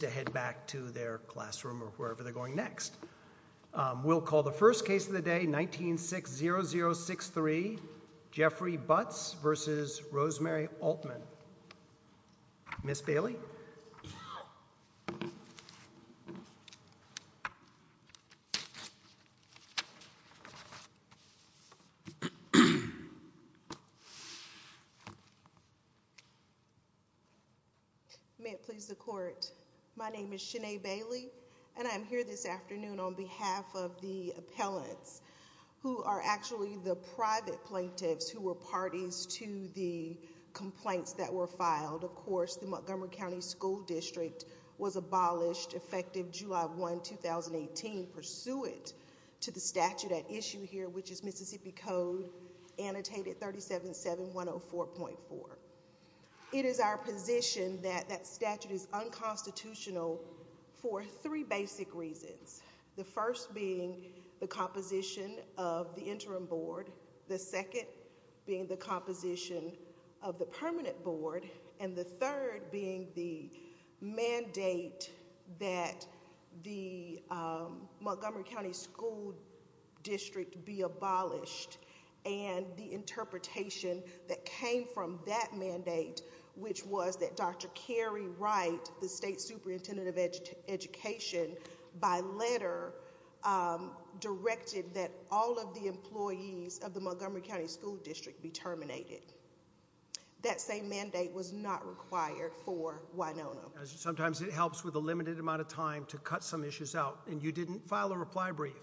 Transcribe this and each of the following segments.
to head back to their classroom or wherever they're going next. We'll call the first case of the day, 19-6-0-0-6-3, Jeffrey Butts v. Rosemary Altman. Ms. Bailey? May it please the Court, my name is Shanae Bailey, and I'm here this afternoon on behalf of the appellants, who are actually the private plaintiffs who were parties to the complaints that were filed. Of course, the Montgomery County School District was abolished, effective July 1, 2018, pursuant to the statute at issue here, which is Mississippi Code, annotated 37-7-104.4. It is our position that that statute is unconstitutional for three basic reasons, the first being the composition of the interim board, the second being the composition of the permanent board, and the third being the mandate that the Montgomery County School District be abolished, and the interpretation that came from that mandate, which was that Dr. Carey Wright, the state superintendent of education, by letter directed that all of the employees of the Montgomery County School District be terminated. That same mandate was not required for Winona. Sometimes it helps with a limited amount of time to cut some issues out, and you didn't file a reply brief.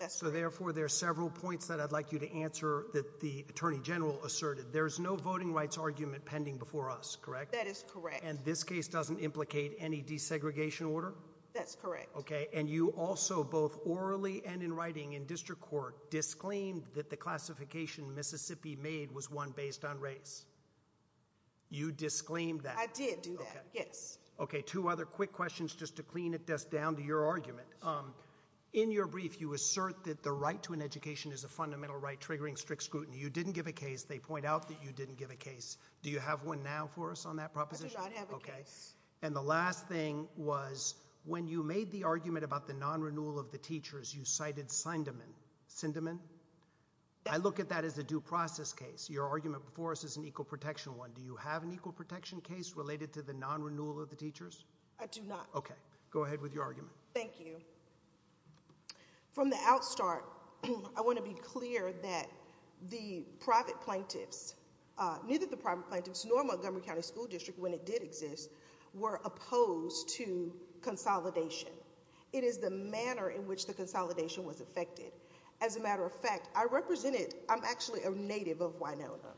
That's correct. So, therefore, there are several points that I'd like you to answer that the Attorney General asserted. There is no voting rights argument pending before us, correct? That is correct. And this case doesn't implicate any desegregation order? That's correct. Okay, and you also, both orally and in writing in district court, disclaimed that the classification Mississippi made was one based on race. You disclaimed that? I did do that. Yes. Okay, two other quick questions just to clean it down to your argument. In your brief, you assert that the right to an education is a fundamental right triggering strict scrutiny. You didn't give a case. They point out that you didn't give a case. Do you have one now for us on that proposition? I do not have a case. And the last thing was, when you made the argument about the non-renewal of the teachers, you cited Sindeman. Sindeman? Yes. I look at that as a due process case. Your argument before us is an equal protection one. Do you have an equal protection case related to the non-renewal of the teachers? I do not. Okay. Go ahead with your argument. Thank you. From the outstart, I want to be clear that the private plaintiffs, neither the private plaintiffs nor Montgomery County School District, when it did exist, were opposed to consolidation. It is the manner in which the consolidation was effected. As a matter of fact, I represented, I'm actually a native of Winona.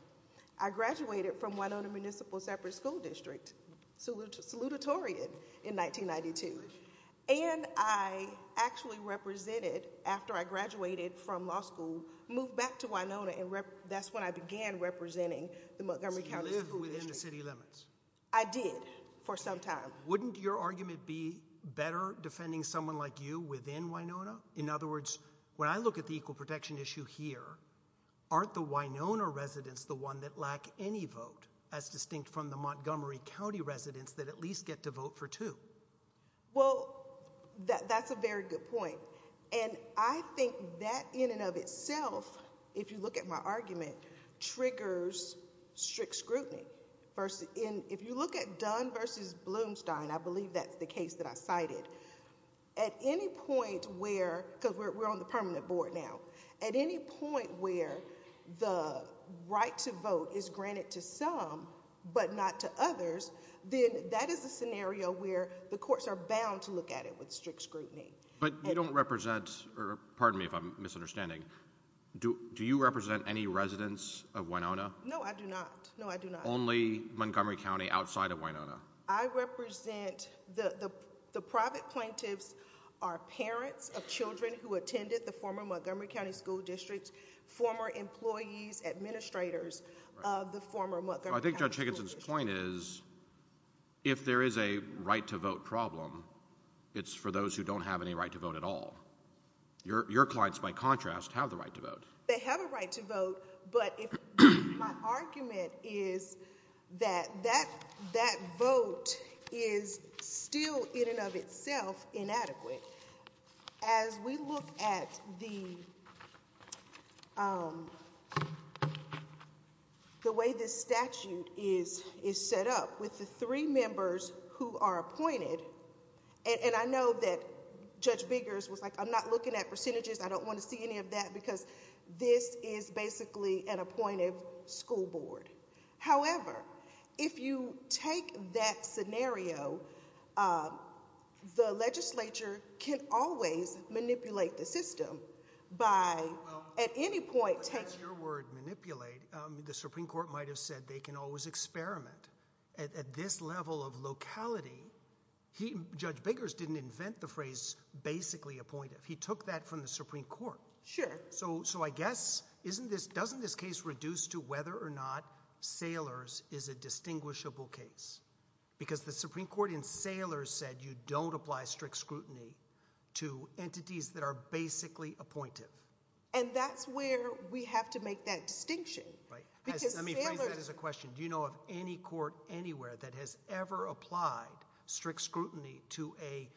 I graduated from Winona Municipal Separate School District, salutatorian, in 1992. And I actually represented, after I graduated from law school, moved back to Winona, and that's when I began representing the Montgomery County School District. So you lived within the city limits? I did, for some time. Wouldn't your argument be better defending someone like you within Winona? In other words, when I look at the equal protection issue here, aren't the Winona residents the one that lack any vote, as distinct from the Montgomery County residents that at least get to vote for two? Well, that's a very good point. And I think that in and of itself, if you look at my argument, triggers strict scrutiny. If you look at Dunn versus Blumstein, I believe that's the case that I cited, at any point where, because we're on the permanent board now, at any point where the right to vote is granted to some, but not to others, then that is a scenario where the courts are bound to look at it with strict scrutiny. But you don't represent, or pardon me if I'm misunderstanding, do you represent any residents of Winona? No, I do not. No, I do not. Only Montgomery County outside of Winona? I represent, the private plaintiffs are parents of children who attended the former Montgomery County School District, former employees, administrators of the former Montgomery County School District. I think Judge Higginson's point is, if there is a right to vote problem, it's for those who don't have any right to vote at all. They have a right to vote, but if, my argument is that that vote is still, in and of itself, inadequate. As we look at the way this statute is set up, with the three members who are appointed, and I know that Judge Biggers was like, I'm not looking at percentages, I don't want to see any of that, because this is basically an appointed school board. However, if you take that scenario, the legislature can always manipulate the system by, at any point taking- Well, if that's your word, manipulate, the Supreme Court might have said they can always experiment. At this level of locality, Judge Biggers didn't invent the phrase, basically appointed. He took that from the Supreme Court. So I guess, doesn't this case reduce to whether or not Saylor's is a distinguishable case? Because the Supreme Court in Saylor's said you don't apply strict scrutiny to entities that are basically appointed. And that's where we have to make that distinction, because Saylor's- Let me phrase that as a question. Do you know of any court anywhere that has ever applied strict scrutiny to a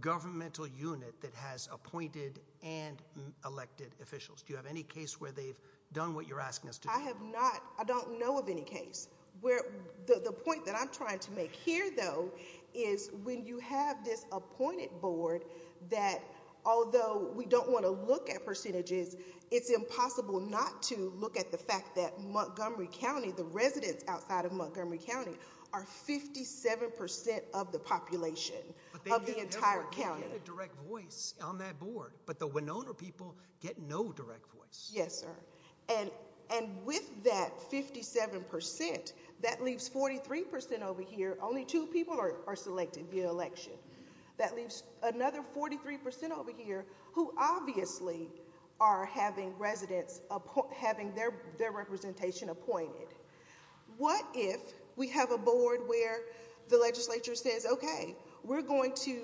governmental unit that has appointed and elected officials? Do you have any case where they've done what you're asking us to do? I have not. I don't know of any case. The point that I'm trying to make here, though, is when you have this appointed board, that although we don't want to look at percentages, it's impossible not to look at the fact that Montgomery County, the residents outside of Montgomery County, are 57% of the population of the entire county. They get a direct voice on that board, but the Winona people get no direct voice. Yes, sir. And with that 57%, that leaves 43% over here, only two people are selected via election. That leaves another 43% over here who obviously are having residents, having their representation appointed. What if we have a board where the legislature says, okay, we're going to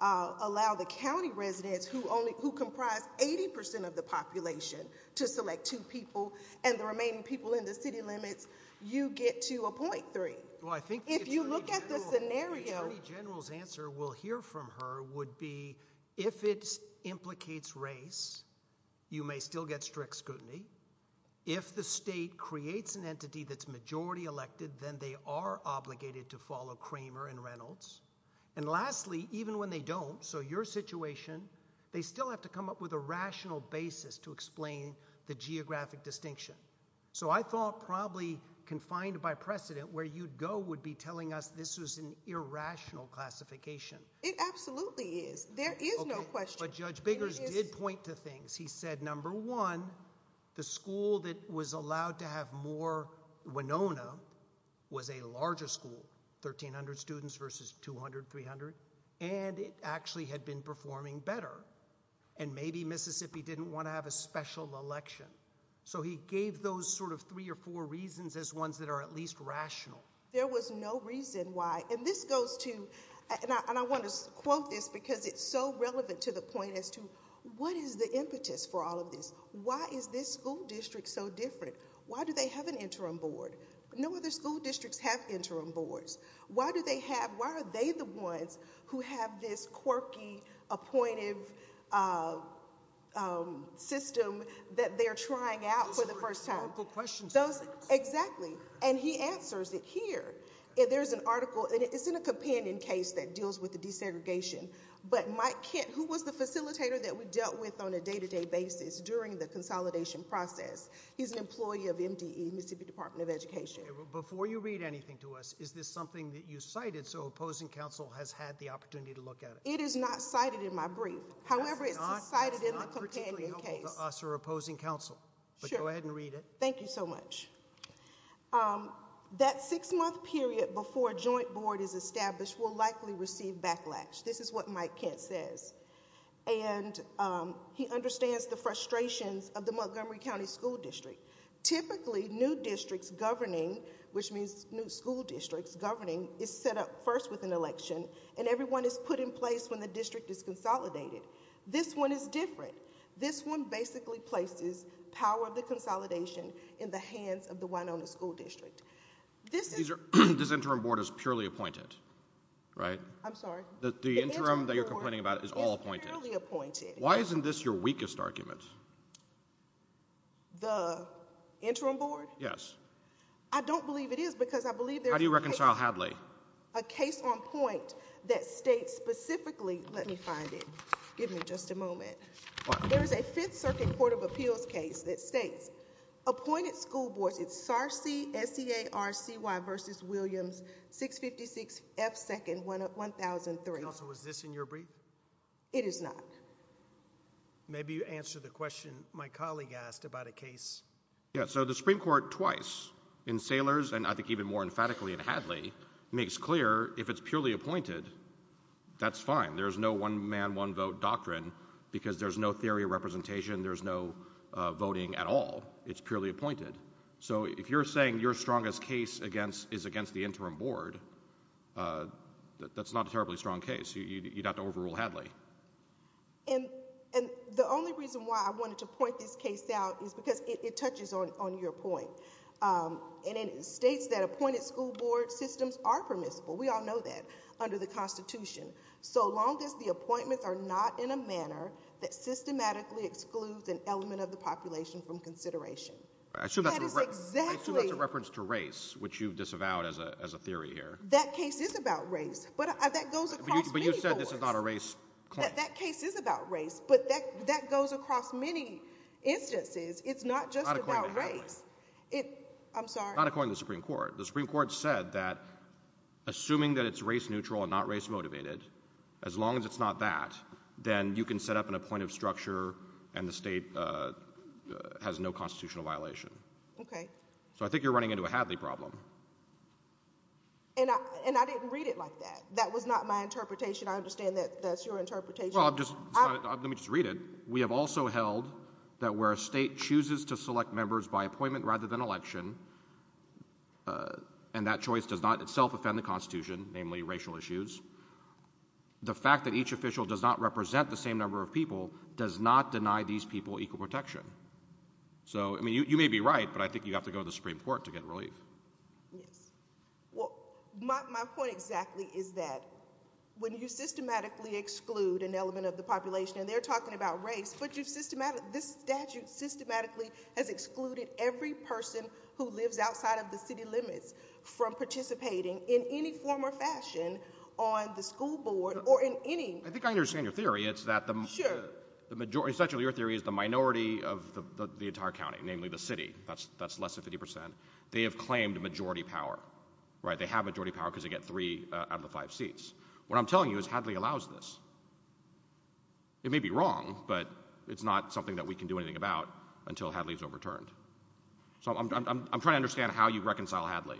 allow the county residents who comprise 80% of the population to select two people and the remaining people in the city limits, you get to a 0.3. Well, I think- If you look at the scenario- Attorney General's answer, we'll hear from her, would be if it implicates race, you may still get strict scrutiny. If the state creates an entity that's majority elected, then they are obligated to follow Cramer and Reynolds. And lastly, even when they don't, so your situation, they still have to come up with a rational basis to explain the geographic distinction. So I thought probably confined by precedent, where you'd go would be telling us this was an irrational classification. It absolutely is. There is no question. But Judge Biggers did point to things. He said, number one, the school that was allowed to have more Winona was a larger school, 1,300 students versus 200, 300. And it actually had been performing better. And maybe Mississippi didn't want to have a special election. So he gave those sort of three or four reasons as ones that are at least rational. There was no reason why, and this goes to, and I want to quote this because it's so relevant to the point as to what is the impetus for all of this? Why is this school district so different? Why do they have an interim board? No other school districts have interim boards. Why do they have, why are they the ones who have this quirky, appointive system that they're trying out for the first time? Those are critical questions. Exactly. And he answers it here. There's an article, and it's in a companion case that deals with the desegregation. But Mike Kent, who was the facilitator that we dealt with on a day-to-day basis during the consolidation process, he's an employee of MDE, Mississippi Department of Education. Before you read anything to us, is this something that you cited so opposing counsel has had the opportunity to look at it? It is not cited in my brief. However, it's cited in the companion case. That's not particularly helpful to us or opposing counsel, but go ahead and read it. Thank you so much. That six-month period before a joint board is established will likely receive backlash. This is what Mike Kent says, and he understands the frustrations of the Montgomery County School District. Typically, new districts governing, which means new school districts governing, is set up first with an election, and everyone is put in place when the district is consolidated. This one is different. This one basically places power of the consolidation in the hands of the Winona School District. This interim board is purely appointed, right? I'm sorry? The interim that you're complaining about is all appointed? It's purely appointed. Why isn't this your weakest argument? The interim board? Yes. I don't believe it is, because I believe there is a case on point that states specifically — let me find it. Give me just a moment. What? There is a Fifth Circuit Court of Appeals case that states, appointed school boards — it's SARC, S-E-A-R-C-Y v. Williams, 656 F. 2nd, 1003. Counsel, was this in your brief? It is not. Maybe you answer the question my colleague asked about a case. Yeah, so the Supreme Court twice, in Saylors and I think even more emphatically in Hadley, makes clear if it's purely appointed, that's fine. There's no one-man, one-vote doctrine, because there's no theory of representation, there's no voting at all. It's purely appointed. So if you're saying your strongest case is against the interim board, that's not a terribly strong case. You'd have to overrule Hadley. And the only reason why I wanted to point this case out is because it touches on your point. And it states that appointed school board systems are permissible. We all know that under the Constitution. So long as the appointments are not in a manner that systematically excludes an element of the population from consideration. I assume that's a reference to race, which you've disavowed as a theory here. That case is about race, but that goes across many courts. But you said this is not a race claim. That case is about race, but that goes across many instances. It's not just about race. Not according to Hadley. I'm sorry? Not according to the Supreme Court. The Supreme Court said that assuming that it's race-neutral and not race-motivated, as long as it's not that, then you can set up an appointive structure and the state has no constitutional violation. Okay. So I think you're running into a Hadley problem. And I didn't read it like that. That was not my interpretation. I understand that that's your interpretation. Well, let me just read it. We have also held that where a state chooses to select members by appointment rather than election, and that choice does not itself offend the Constitution, namely racial issues, the fact that each official does not represent the same number of people does not deny these people equal protection. So, I mean, you may be right, but I think you have to go to the Supreme Court to get relief. Yes. Well, my point exactly is that when you systematically exclude an element of the population, and they're talking about race, but this statute systematically has excluded every person who lives outside of the city limits from participating in any form or fashion on the school board or in any — I think I understand your theory. It's that — Sure. It's that essentially your theory is the minority of the entire county, namely the city. That's less than 50 percent. They have claimed majority power, right? They have majority power because they get three out of the five seats. What I'm telling you is Hadley allows this. It may be wrong, but it's not something that we can do anything about until Hadley's overturned. So I'm trying to understand how you reconcile Hadley.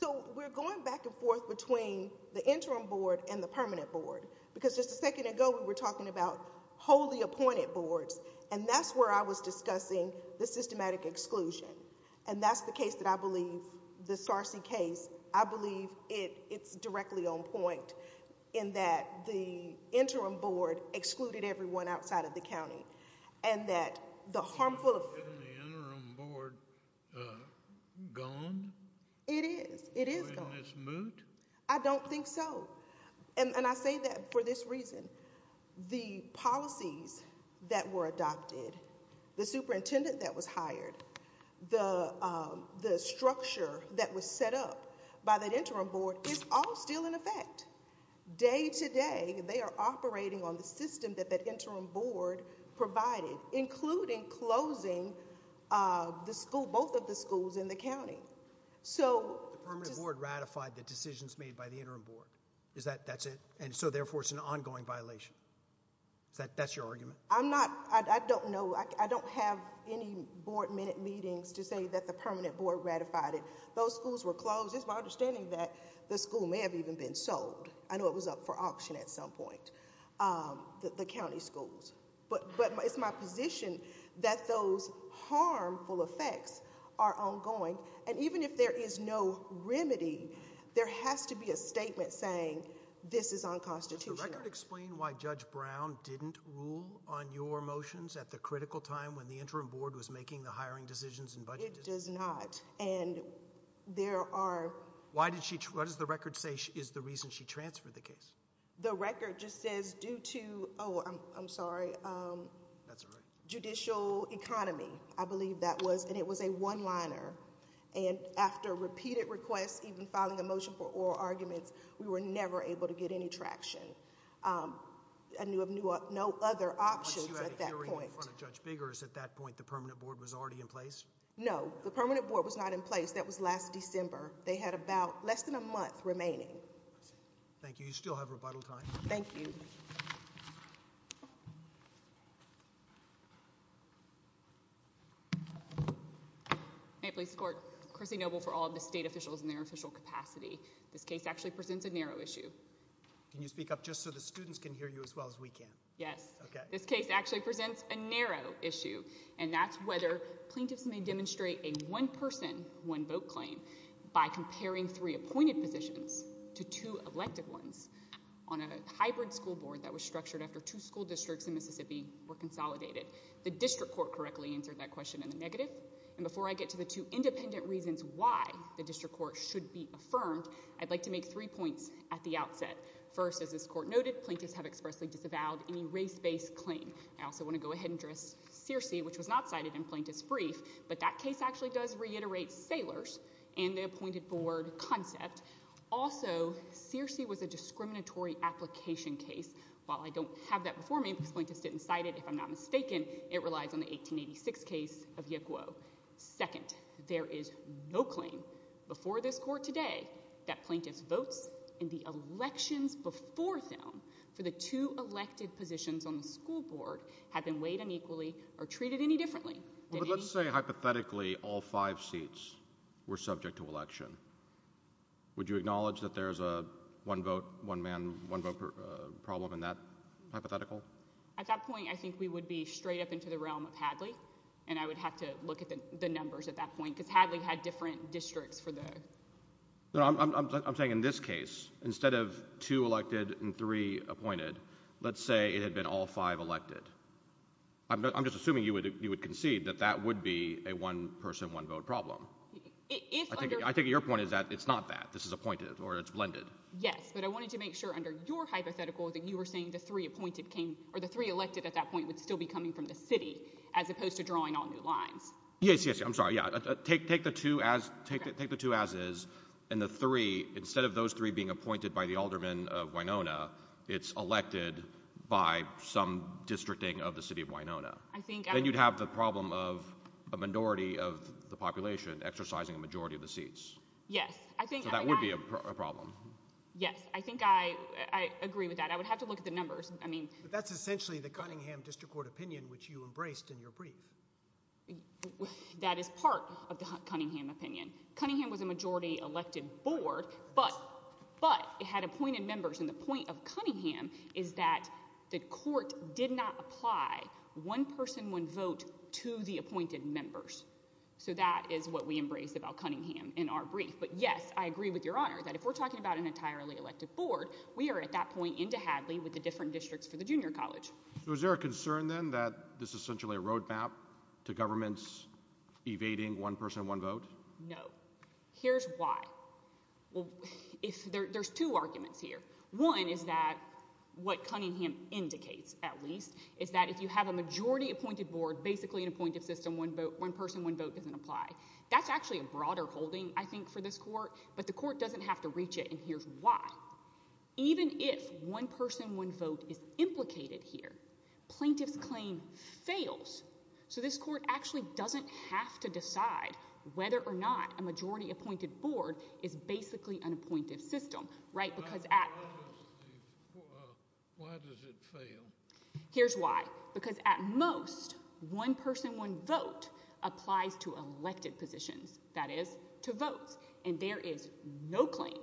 So we're going back and forth between the interim board and the permanent board, because just a second ago we were talking about wholly appointed boards, and that's where I was discussing the systematic exclusion. And that's the case that I believe, the SCARC case, I believe it's directly on point in that the interim board excluded everyone outside of the county, and that the harmful — Isn't the interim board gone? It is. It is gone. Isn't this moot? I don't think so. And I say that for this reason. The policies that were adopted, the superintendent that was hired, the structure that was set up by that interim board is all still in effect. Day to day, they are operating on the system that that interim board provided, including closing the school, both of the schools in the county. The permanent board ratified the decisions made by the interim board. Is that — that's it? And so therefore it's an ongoing violation? That's your argument? I'm not — I don't know. I don't have any board minute meetings to say that the permanent board ratified it. Those schools were closed. It's my understanding that the school may have even been sold. I know it was up for auction at some point, the county schools. But it's my position that those harmful effects are ongoing. And even if there is no remedy, there has to be a statement saying this is unconstitutional. Does the record explain why Judge Brown didn't rule on your motions at the critical time when the interim board was making the hiring decisions and budget decisions? It does not. And there are — Why did she — what does the record say is the reason she transferred the case? The record just says due to — oh, I'm sorry. That's all right. Judicial economy, I believe that was, and it was a one-liner. And after repeated requests, even filing a motion for oral arguments, we were never able to get any traction. I knew of no other options at that point. Once you had a hearing in front of Judge Biggers at that point, the permanent board was already in place? No. The permanent board was not in place. That was last December. They had about less than a month remaining. I see. Thank you. You still have rebuttal time. Thank you. May it please the Court, Chrissy Noble for all of the state officials in their official capacity. This case actually presents a narrow issue. Can you speak up just so the students can hear you as well as we can? Yes. Okay. This case actually presents a narrow issue, and that's whether plaintiffs may demonstrate a one-person, one-vote claim by comparing three appointed positions to two elected ones on a hybrid school board that was structured after two school districts in Mississippi were consolidated. The district court correctly answered that question in the negative. And before I get to the two independent reasons why the district court should be affirmed, I'd like to make three points at the outset. First, as this Court noted, plaintiffs have expressly disavowed any race-based claim. I also want to go ahead and address Searcy, which was not cited in Plaintiff's brief. But that case actually does reiterate Saylor's and the appointed board concept. Also, Searcy was a discriminatory application case. While I don't have that before me, because plaintiffs didn't cite it, if I'm not mistaken, it relies on the 1886 case of Yick Woe. Second, there is no claim before this Court today that plaintiffs' votes in the elections before them for the two elected positions on the school board have been weighed unequally or treated any differently than any— Let's say, hypothetically, all five seats were subject to election. Would you acknowledge that there's a one-vote, one-man, one-vote problem in that hypothetical? At that point, I think we would be straight up into the realm of Hadley. And I would have to look at the numbers at that point, because Hadley had different districts for the— No, I'm saying in this case, instead of two elected and three appointed, let's say it had been all five elected. I'm just assuming you would concede that that would be a one-person, one-vote problem. I think your point is that it's not that. This is appointed, or it's blended. Yes, but I wanted to make sure, under your hypothetical, that you were saying the three appointed came—or the three elected at that point would still be coming from the city, as opposed to drawing on new lines. Yes, yes. I'm sorry. Yeah. Take the two as is, and the three, instead of those three being appointed by the aldermen of Wynona, it's elected by some districting of the city of Wynona. I think— Then you'd have the problem of a minority of the population exercising a majority of the seats. Yes. I think— So that would be a problem. Yes. I think I agree with that. I would have to look at the numbers. I mean— But that's essentially the Cunningham District Court opinion, which you embraced in your brief. That is part of the Cunningham opinion. Cunningham was a majority-elected board, but it had appointed members, and the point of Cunningham is that the court did not apply one person, one vote to the appointed members. So that is what we embraced about Cunningham in our brief. But yes, I agree with Your Honor that if we're talking about an entirely elected board, we are at that point into Hadley with the different districts for the junior college. Was there a concern, then, that this is essentially a roadmap to governments evading one person, one vote? No. Here's why. Well, there's two arguments here. One is that what Cunningham indicates, at least, is that if you have a majority-appointed board, basically an appointed system, one person, one vote doesn't apply. That's actually a broader holding, I think, for this court, but the court doesn't have to reach it, and here's why. Even if one person, one vote is implicated here, plaintiff's claim fails. So this court actually doesn't have to decide whether or not a majority-appointed board is basically an appointed system, right, because at— Why does it fail? Here's why. Because at most, one person, one vote applies to elected positions, that is, to votes. And there is no claim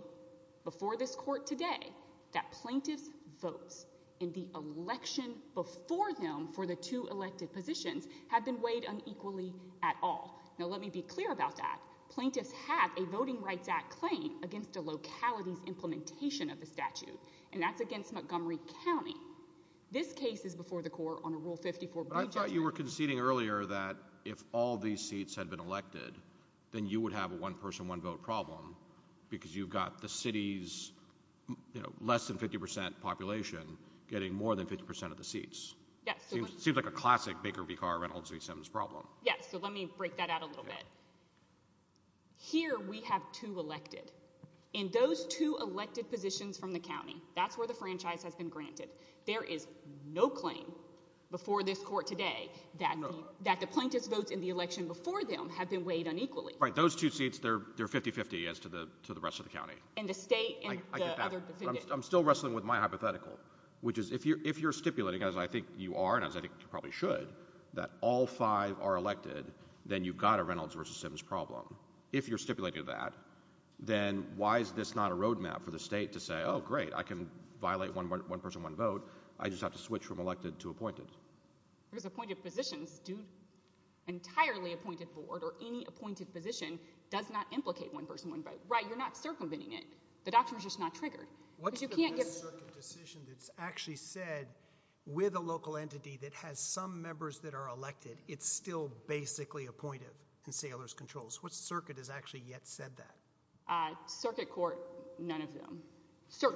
before this court today that plaintiffs' votes in the election before Cunningham for the two elected positions have been weighed unequally at all. Now, let me be clear about that. Plaintiffs have a Voting Rights Act claim against a locality's implementation of the statute, and that's against Montgomery County. This case is before the court on a Rule 54— But I thought you were conceding earlier that if all these seats had been elected, then you would have a one-person, one-vote problem because you've got the city's, you know, less than 50 percent population getting more than 50 percent of the seats. It seems like a classic Baker v. Carr, Reynolds v. Sims problem. Yes. So let me break that out a little bit. Here we have two elected. In those two elected positions from the county, that's where the franchise has been granted. There is no claim before this court today that the plaintiffs' votes in the election before them have been weighed unequally. Right. Those two seats, they're 50-50 as to the rest of the county. And the state and the other defendants. I'm still wrestling with my hypothetical, which is if you're stipulating, as I think you are, and as I think you probably should, that all five are elected, then you've got a Reynolds v. Sims problem. If you're stipulating that, then why is this not a roadmap for the state to say, oh, great, I can violate one-person, one-vote, I just have to switch from elected to appointed? Because appointed positions do—entirely appointed board or any appointed position does not implicate one-person, one-vote. Right. You're not circumventing it. The doctrine is just not triggered. What's the best circuit decision that's actually said with a local entity that has some members that are elected, it's still basically appointed in Saylor's controls? What circuit has actually yet said that? Circuit court, none of them.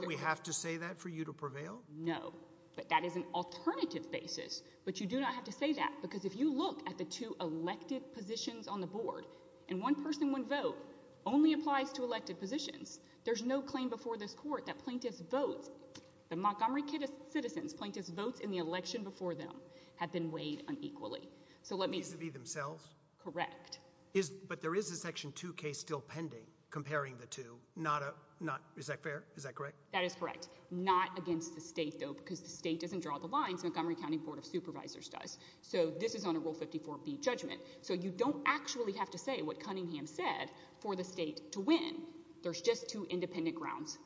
We have to say that for you to prevail? No. But that is an alternative basis. But you do not have to say that. Because if you look at the two elected positions on the board, and one-person, one-vote only applies to elected positions. There's no claim before this court that plaintiffs' votes, the Montgomery citizens' plaintiffs' votes in the election before them have been weighed unequally. So let me— They tend to be themselves? Correct. Is—but there is a Section 2 case still pending comparing the two, not a—not—is that fair? Is that correct? That is correct. Not against the state, though, because the state doesn't draw the lines. Montgomery County Board of Supervisors does. So this is on a Rule 54b judgment. So you don't actually have to say what Cunningham said for the state to win. There's just two independent grounds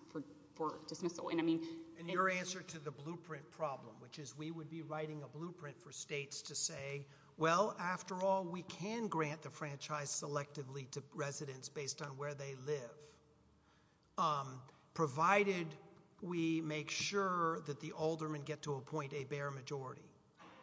for dismissal. And I mean— And your answer to the blueprint problem, which is we would be writing a blueprint for states to say, well, after all, we can grant the franchise selectively to residents based on where they live, provided we make sure that the aldermen get to appoint a bare majority.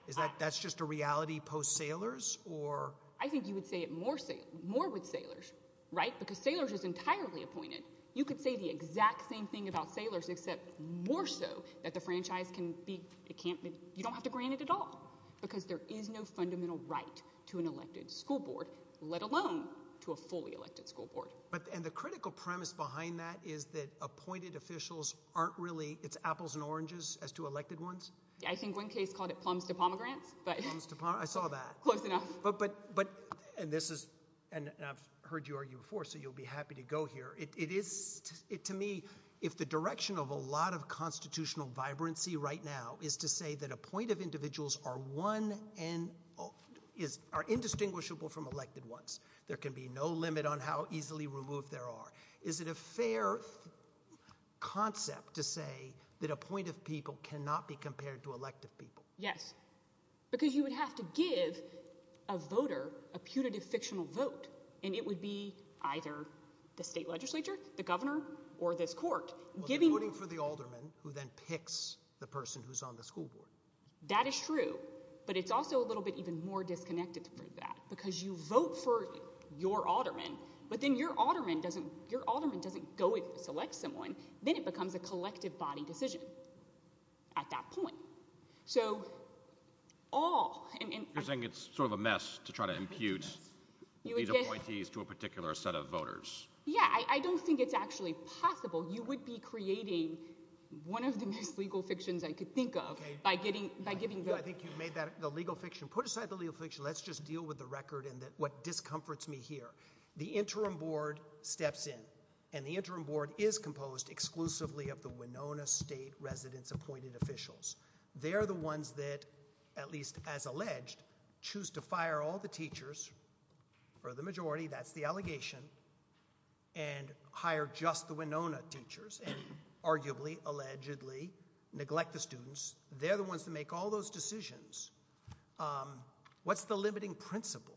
Is that—that's just a reality post-Salers, or— I think you would say it more—more with Salers, right, because Salers is entirely appointed. You could say the exact same thing about Salers, except more so that the franchise can be—it can't be—you don't have to grant it at all, because there is no fundamental right to an elected school board, let alone to a fully elected school board. But—and the critical premise behind that is that appointed officials aren't really—it's apples and oranges as to elected ones? Yeah, I think one case called it plums to pomegranates, but— Plums to pome—I saw that. Close enough. But—but—but—and this is—and I've heard you argue before, so you'll be happy to go here. It—it is—to me, if the direction of a lot of constitutional vibrancy right now is to say that appointed individuals are one and—are indistinguishable from elected ones, there can be no limit on how easily removed there are, is it a fair concept to say that appointed people cannot be compared to elected people? Yes, because you would have to give a voter a punitive fictional vote, and it would be either the state legislature, the governor, or this court giving— Well, they're voting for the alderman, who then picks the person who's on the school board. That is true, but it's also a little bit even more disconnected from that, because you vote for your alderman, but then your alderman doesn't—your alderman doesn't go and select someone, then it becomes a collective body decision at that point. So all— You're saying it's sort of a mess to try to impute these appointees to a particular set of voters. Yeah, I—I don't think it's actually possible. You would be creating one of the most legal fictions I could think of by getting—by giving the— I think you made that—the legal fiction. Put aside the legal fiction. Let's just deal with the record and what discomforts me here. The interim board steps in, and the interim board is composed exclusively of the Winona state residents appointed officials. They're the ones that, at least as alleged, choose to fire all the teachers, or the majority, that's the allegation, and hire just the Winona teachers, and arguably, allegedly neglect the students. They're the ones that make all those decisions. What's the limiting principle?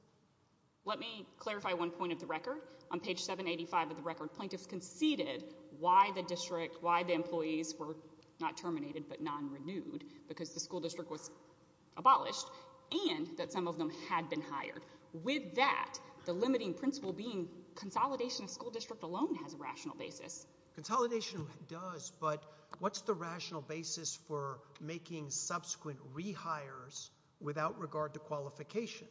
Let me clarify one point of the record. On page 785 of the record, plaintiffs conceded why the district—why the employees were not terminated but non-renewed, because the school district was abolished, and that some of them had been hired. With that, the limiting principle being consolidation of school district alone has a rational basis. Consolidation does, but what's the rational basis for making subsequent rehires without regard to qualification?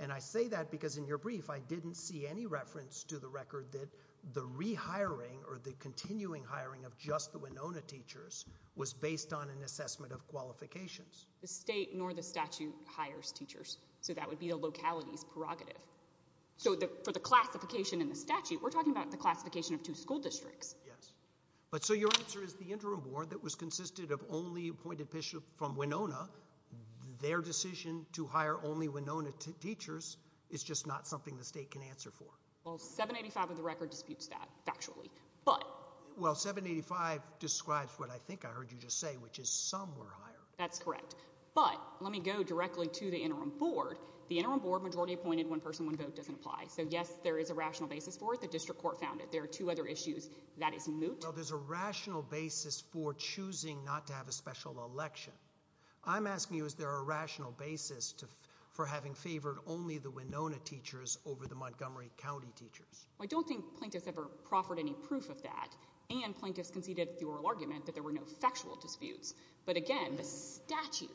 And I say that because in your brief, I didn't see any reference to the record that the rehiring or the continuing hiring of just the Winona teachers was based on an assessment of qualifications. The state nor the statute hires teachers, so that would be the locality's prerogative. So for the classification in the statute, we're talking about the classification of two school districts. Yes, but so your answer is the interim board that was consisted of only appointed bishops from Winona, their decision to hire only Winona teachers is just not something the state can answer for. Well, 785 of the record disputes that factually, but— Well, 785 describes what I think I heard you just say, which is some were hired. That's correct. But let me go directly to the interim board. The interim board majority appointed one person, one vote doesn't apply, so yes, there is a rational basis for it. The district court found it. There are two other issues. That is moot— Well, there's a rational basis for choosing not to have a special election. I'm asking you, is there a rational basis for having favored only the Winona teachers over the Montgomery County teachers? Well, I don't think plaintiffs ever proffered any proof of that, and plaintiffs conceded the oral argument that there were no factual disputes, but again, the statute,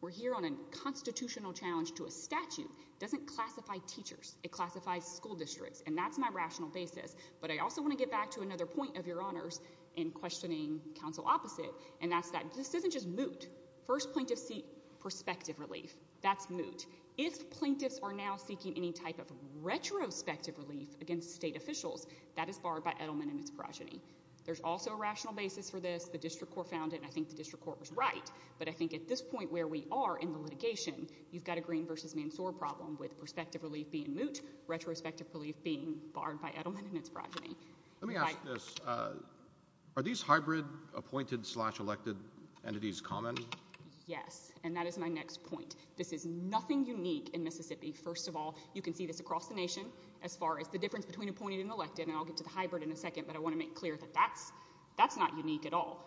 we're here on a constitutional challenge to a statute, doesn't classify teachers. It classifies school districts, and that's my rational basis, but I also want to get back to another point of your honors in questioning counsel opposite, and that's that this isn't just moot. First, plaintiffs seek prospective relief. That's moot. If plaintiffs are now seeking any type of retrospective relief against state officials, that is barred by Edelman and its progeny. There's also a rational basis for this. The district court found it, and I think the district court was right, but I think at this point where we are in the litigation, you've got a Green v. Mansour problem with prospective relief being moot, retrospective relief being barred by Edelman and its progeny. Let me ask this. Are these hybrid appointed-slash-elected entities common? Yes, and that is my next point. This is nothing unique in Mississippi. First of all, you can see this across the nation as far as the difference between appointed and elected, and I'll get to the hybrid in a second, but I want to make clear that that's not unique at all.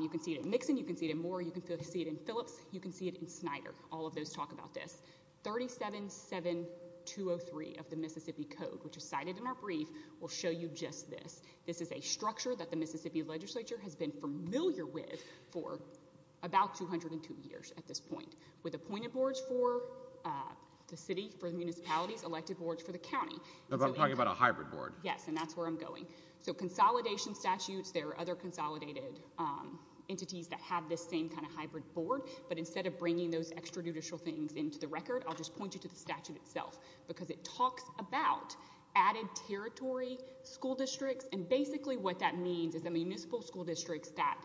You can see it in Nixon. You can see it in Moore. You can see it in Phillips. You can see it in Snyder. All of those talk about this. 37-7203 of the Mississippi Code, which is cited in our brief, will show you just this. This is a structure that the Mississippi legislature has been familiar with for about 202 years at this point, with appointed boards for the city, for the municipalities, elected boards for the county. I'm talking about a hybrid board. Yes, and that's where I'm going. So consolidation statutes, there are other consolidated entities that have this same kind of hybrid board, but instead of bringing those extrajudicial things into the record, I'll just point you to the statute itself, because it talks about added territory, school districts, and basically what that means is a municipal school district that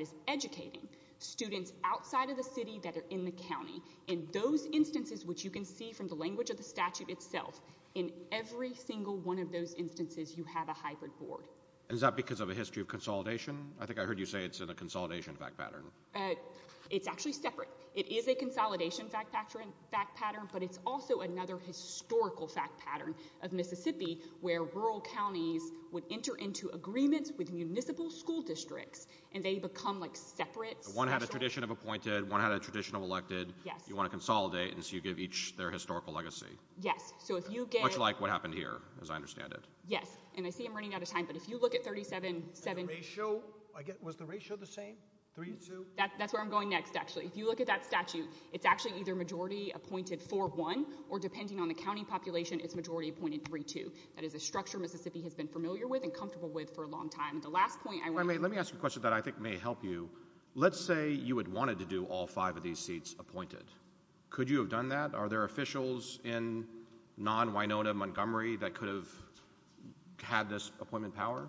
is educating students outside of the city that are in the county. In those instances, which you can see from the language of the statute itself, in every single one of those instances, you have a hybrid board. And is that because of a history of consolidation? I think I heard you say it's in a consolidation fact pattern. It's actually separate. It is a consolidation fact pattern, but it's also another historical fact pattern of Mississippi where rural counties would enter into agreements with municipal school districts, and they become like separate. One had a tradition of appointed, one had a tradition of elected. You want to consolidate, and so you give each their historical legacy. Yes. So if you get... Much like what happened here, as I understand it. Yes. And I see I'm running out of time. But if you look at 37... And the ratio? Was the ratio the same? 3-2? That's where I'm going next, actually. If you look at that statute, it's actually either majority appointed 4-1, or depending on the county population, it's majority appointed 3-2. That is a structure Mississippi has been familiar with and comfortable with for a long time. The last point I want to... Let me ask you a question that I think may help you. Let's say you had wanted to do all five of these seats appointed. Could you have done that? Are there officials in non-Winona Montgomery that could have had this appointment power?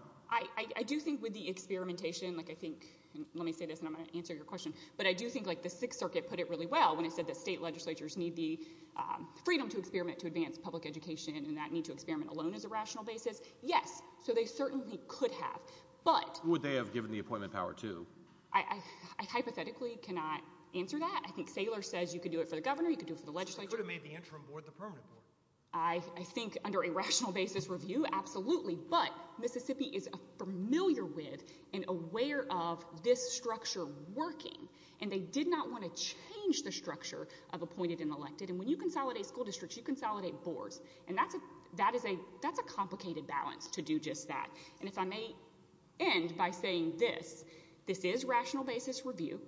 I do think with the experimentation, like I think, let me say this and I'm going to answer your question. But I do think like the Sixth Circuit put it really well when it said that state legislatures need the freedom to experiment to advance public education, and that need to experiment alone is a rational basis. Yes. So they certainly could have. But... Would they have given the appointment power too? I hypothetically cannot answer that. I think Saylor says you could do it for the governor, you could do it for the legislature. They could have made the interim board the permanent board. I think under a rational basis review, absolutely. But Mississippi is familiar with and aware of this structure working. And they did not want to change the structure of appointed and elected. And when you consolidate school districts, you consolidate boards. And that's a complicated balance to do just that. And if I may end by saying this, this is rational basis review,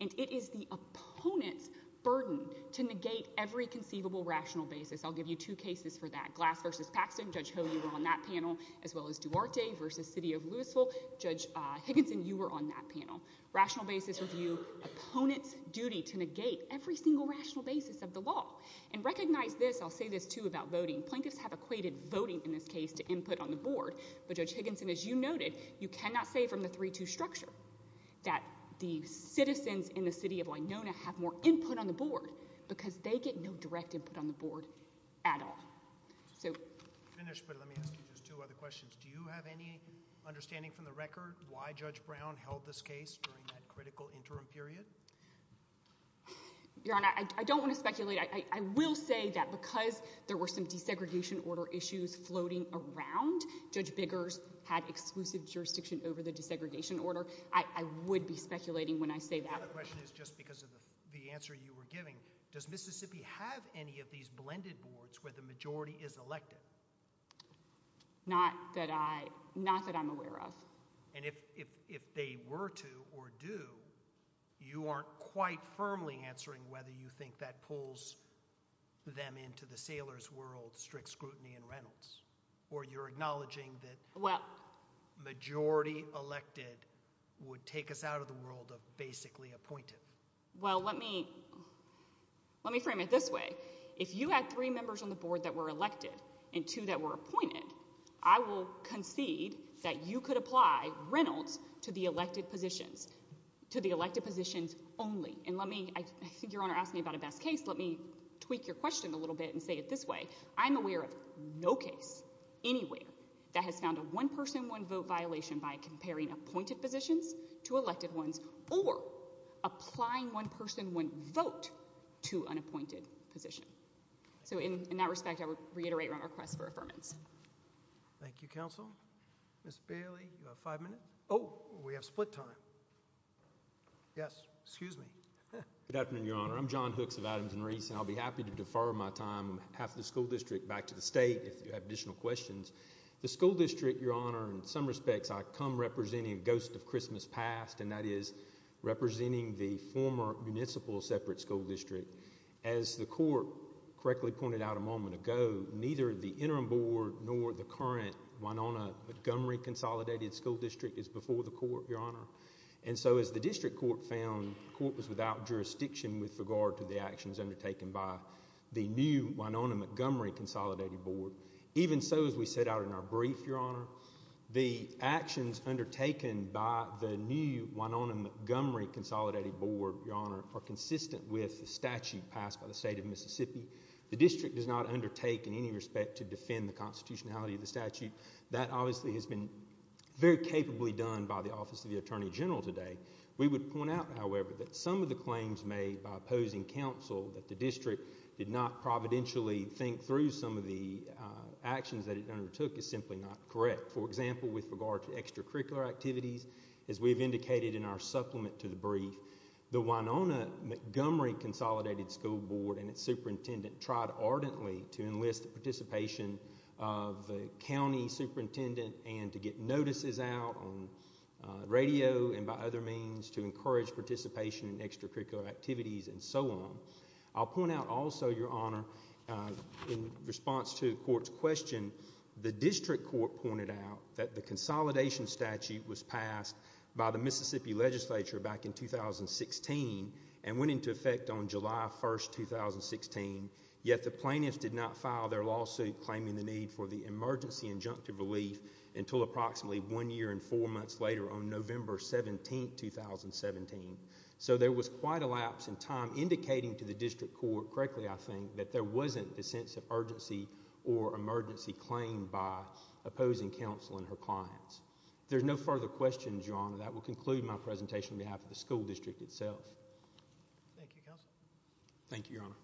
and it is the opponent's burden to negate every conceivable rational basis. I'll give you two cases for that. Glass v. Paxton, Judge Ho, you were on that panel, as well as Duarte v. City of Louisville. Judge Higginson, you were on that panel. Rational basis review, opponent's duty to negate every single rational basis of the law. And recognize this, I'll say this too about voting. Plaintiffs have equated voting in this case to input on the board. But Judge Higginson, as you noted, you cannot say from the 3-2 structure that the citizens in the City of Winona have more input on the board because they get no direct input on the board at all. I'm finished, but let me ask you just two other questions. Do you have any understanding from the record why Judge Brown held this case during that critical interim period? Your Honor, I don't want to speculate. I will say that because there were some desegregation order issues floating around, Judge Biggers had exclusive jurisdiction over the desegregation order. I would be speculating when I say that. The other question is just because of the answer you were giving, does Mississippi have any of these blended boards where the majority is elected? Not that I'm aware of. And if they were to or do, you aren't quite firmly answering whether you think that pulls them into the sailors' world strict scrutiny in Reynolds or you're acknowledging that majority elected would take us out of the world of basically appointed. Well, let me frame it this way. If you had three members on the board that were elected and two that were appointed, I will concede that you could apply Reynolds to the elected positions, to the elected positions only. And let me, I think Your Honor asked me about a best case. Let me tweak your question a little bit and say it this way. I'm aware of no case anywhere that has found a one-person, one-vote violation by comparing appointed positions to elected ones or applying one-person, one-vote to unappointed position. So in that respect, I would reiterate my request for affirmance. Thank you, Counsel. Ms. Bailey, you have five minutes. Oh, we have split time. Yes. Excuse me. Good afternoon, Your Honor. I'm John Hooks of Adams and Reese and I'll be happy to defer my time, half the school district back to the state if you have additional questions. The school district, Your Honor, in some respects I come representing a ghost of Christmas past and that is representing the former municipal separate school district. As the court correctly pointed out a moment ago, neither the interim board nor the current Winona-Montgomery Consolidated School District is before the court, Your Honor. And so as the district court found, the court was without jurisdiction with regard to the actions undertaken by the new Winona-Montgomery Consolidated Board. Even so, as we set out in our brief, Your Honor, the actions undertaken by the new Winona-Montgomery Consolidated Board, Your Honor, are consistent with the statute passed by the state of Mississippi. The district does not undertake in any respect to defend the constitutionality of the statute. That obviously has been very capably done by the Office of the Attorney General today. We would point out, however, that some of the claims made by opposing counsel that the district did not providentially think through some of the actions that it undertook is simply not correct. For example, with regard to extracurricular activities, as we've indicated in our supplement to the brief, the Winona-Montgomery Consolidated School Board and its superintendent tried ardently to enlist the participation of the county superintendent and to get notices out on radio and by other means to encourage participation in extracurricular activities and so on. I'll point out also, Your Honor, in response to the court's question, the district court pointed out that the consolidation statute was passed by the Mississippi legislature back in 2016 and went into effect on July 1, 2016, yet the plaintiffs did not file their lawsuit claiming the need for the emergency injunctive relief until approximately one year and four months later on November 17, 2017. So there was quite a lapse in time indicating to the district court, correctly I think, that there wasn't the sense of urgency or emergency claim by opposing counsel and her clients. There's no further questions, Your Honor. That will conclude my presentation on behalf of the school district itself. Thank you, Your Honor.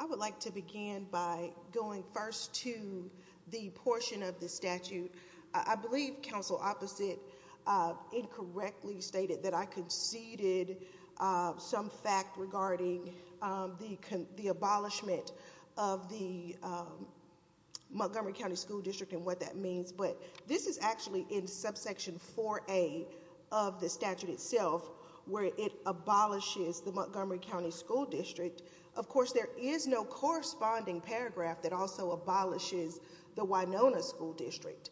I would like to begin by going first to the portion of the statute. I believe Counsel Opposite incorrectly stated that I conceded some fact regarding the abolishment of the Montgomery County School District and what that means, but this is actually in subsection 4A of the statute itself where it abolishes the Montgomery County School District. Of course, there is no corresponding paragraph that also abolishes the Winona School District.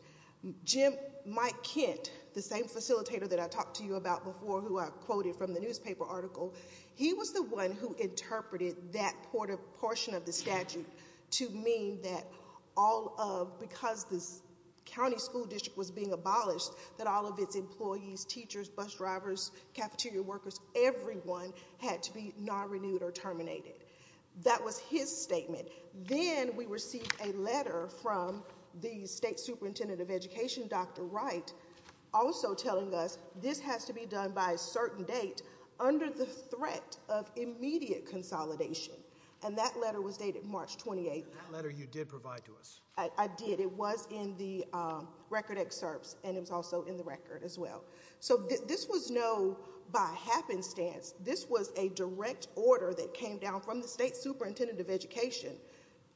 Jim Mike Kent, the same facilitator that I talked to you about before who I quoted from the newspaper article, he was the one who interpreted that portion of the statute to mean that all of, because this county school district was being abolished, that all of its employees, teachers, bus drivers, cafeteria workers, everyone had to be non-renewed or terminated. That was his statement. Then we received a letter from the state superintendent of education, Dr. Wright, also telling us this has to be done by a certain date under the threat of immediate consolidation. And that letter was dated March 28th. That letter you did provide to us. I did. It was in the record excerpts and it was also in the record as well. So this was no by happenstance. This was a direct order that came down from the state superintendent of education.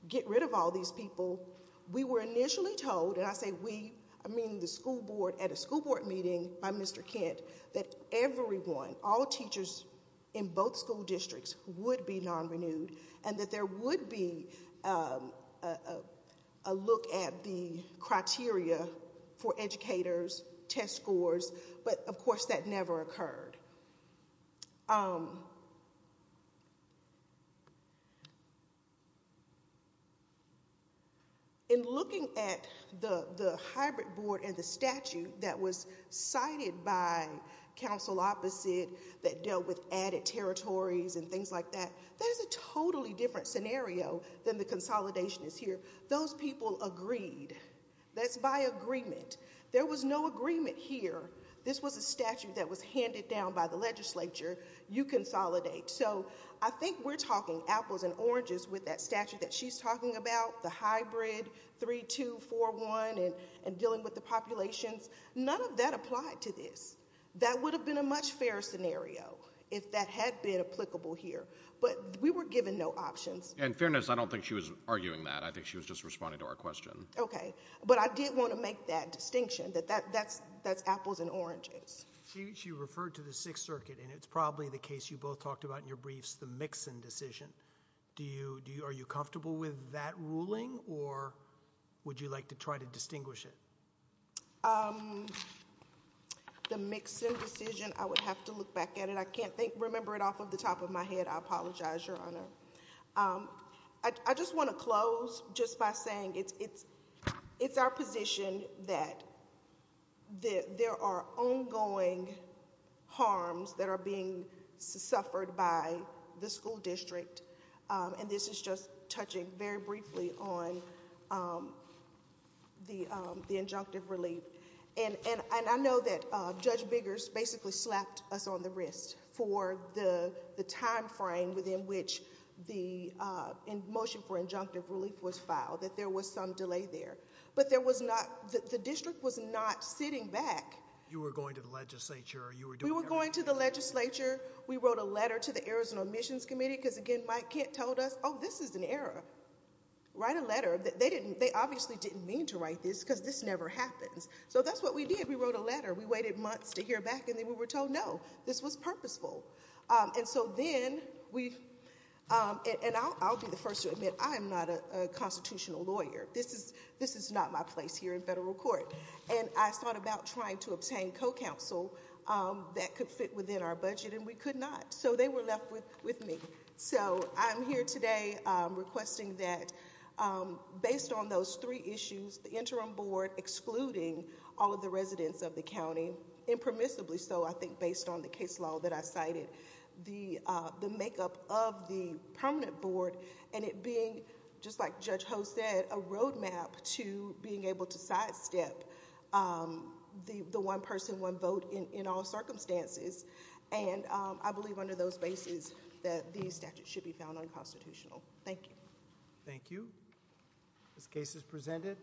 Get rid of all these people. We were initially told, and I say we, I mean the school board at a school board meeting by Mr. Kent, that everyone, all teachers in both school districts would be non-renewed and that there would be a look at the criteria for educators, test scores, but of course that never occurred. In looking at the hybrid board and the statute that was cited by council opposite that dealt with added territories and things like that, that is a totally different scenario than the consolidationist here. Those people agreed. That's by agreement. There was no agreement here. This was a statute that was handed down by the legislature. You consolidate. So I think we're talking apples and oranges with that statute that she's talking about, the hybrid 3-2-4-1 and dealing with the populations. None of that applied to this. That would have been a much fairer scenario if that had been applicable here. But we were given no options. And fairness, I don't think she was arguing that. I think she was just responding to our question. Okay. But I did want to make that distinction, that that's apples and oranges. She referred to the Sixth Circuit and it's probably the case you both talked about in your briefs, the mix-in decision. Are you comfortable with that ruling or would you like to try to distinguish it? The mix-in decision, I would have to look back at it. I can't remember it off of the top of my head, I apologize, Your Honor. I just want to close just by saying it's our position that there are ongoing harms that are being suffered by the school district. And this is just touching very briefly on the injunctive relief. And I know that Judge Biggers basically slapped us on the wrist for the timeframe within which the motion for injunctive relief was filed, that there was some delay there. But there was not... the district was not sitting back. You were going to the legislature. You were doing everything. We were going to the legislature. We wrote a letter to the Errors and Omissions Committee because, again, Mike Kent told us, oh, this is an error. Write a letter. They obviously didn't mean to write this because this never happens. So that's what we did. We wrote a letter. We waited months to hear back and then we were told, no, this was purposeful. And so then we... and I'll be the first to admit, I am not a constitutional lawyer. This is not my place here in federal court. And I thought about trying to obtain co-counsel that could fit within our budget and we could not. So they were left with me. So I'm here today requesting that based on those three issues, the interim board excluding all of the residents of the county, impermissibly so, I think based on the case law that I cited, the makeup of the permanent board and it being, just like Judge Ho said, a roadmap to being able to sidestep the one person, one vote in all circumstances. And I believe under those bases that these statutes should be found unconstitutional. Thank you. Thank you. This case is presented.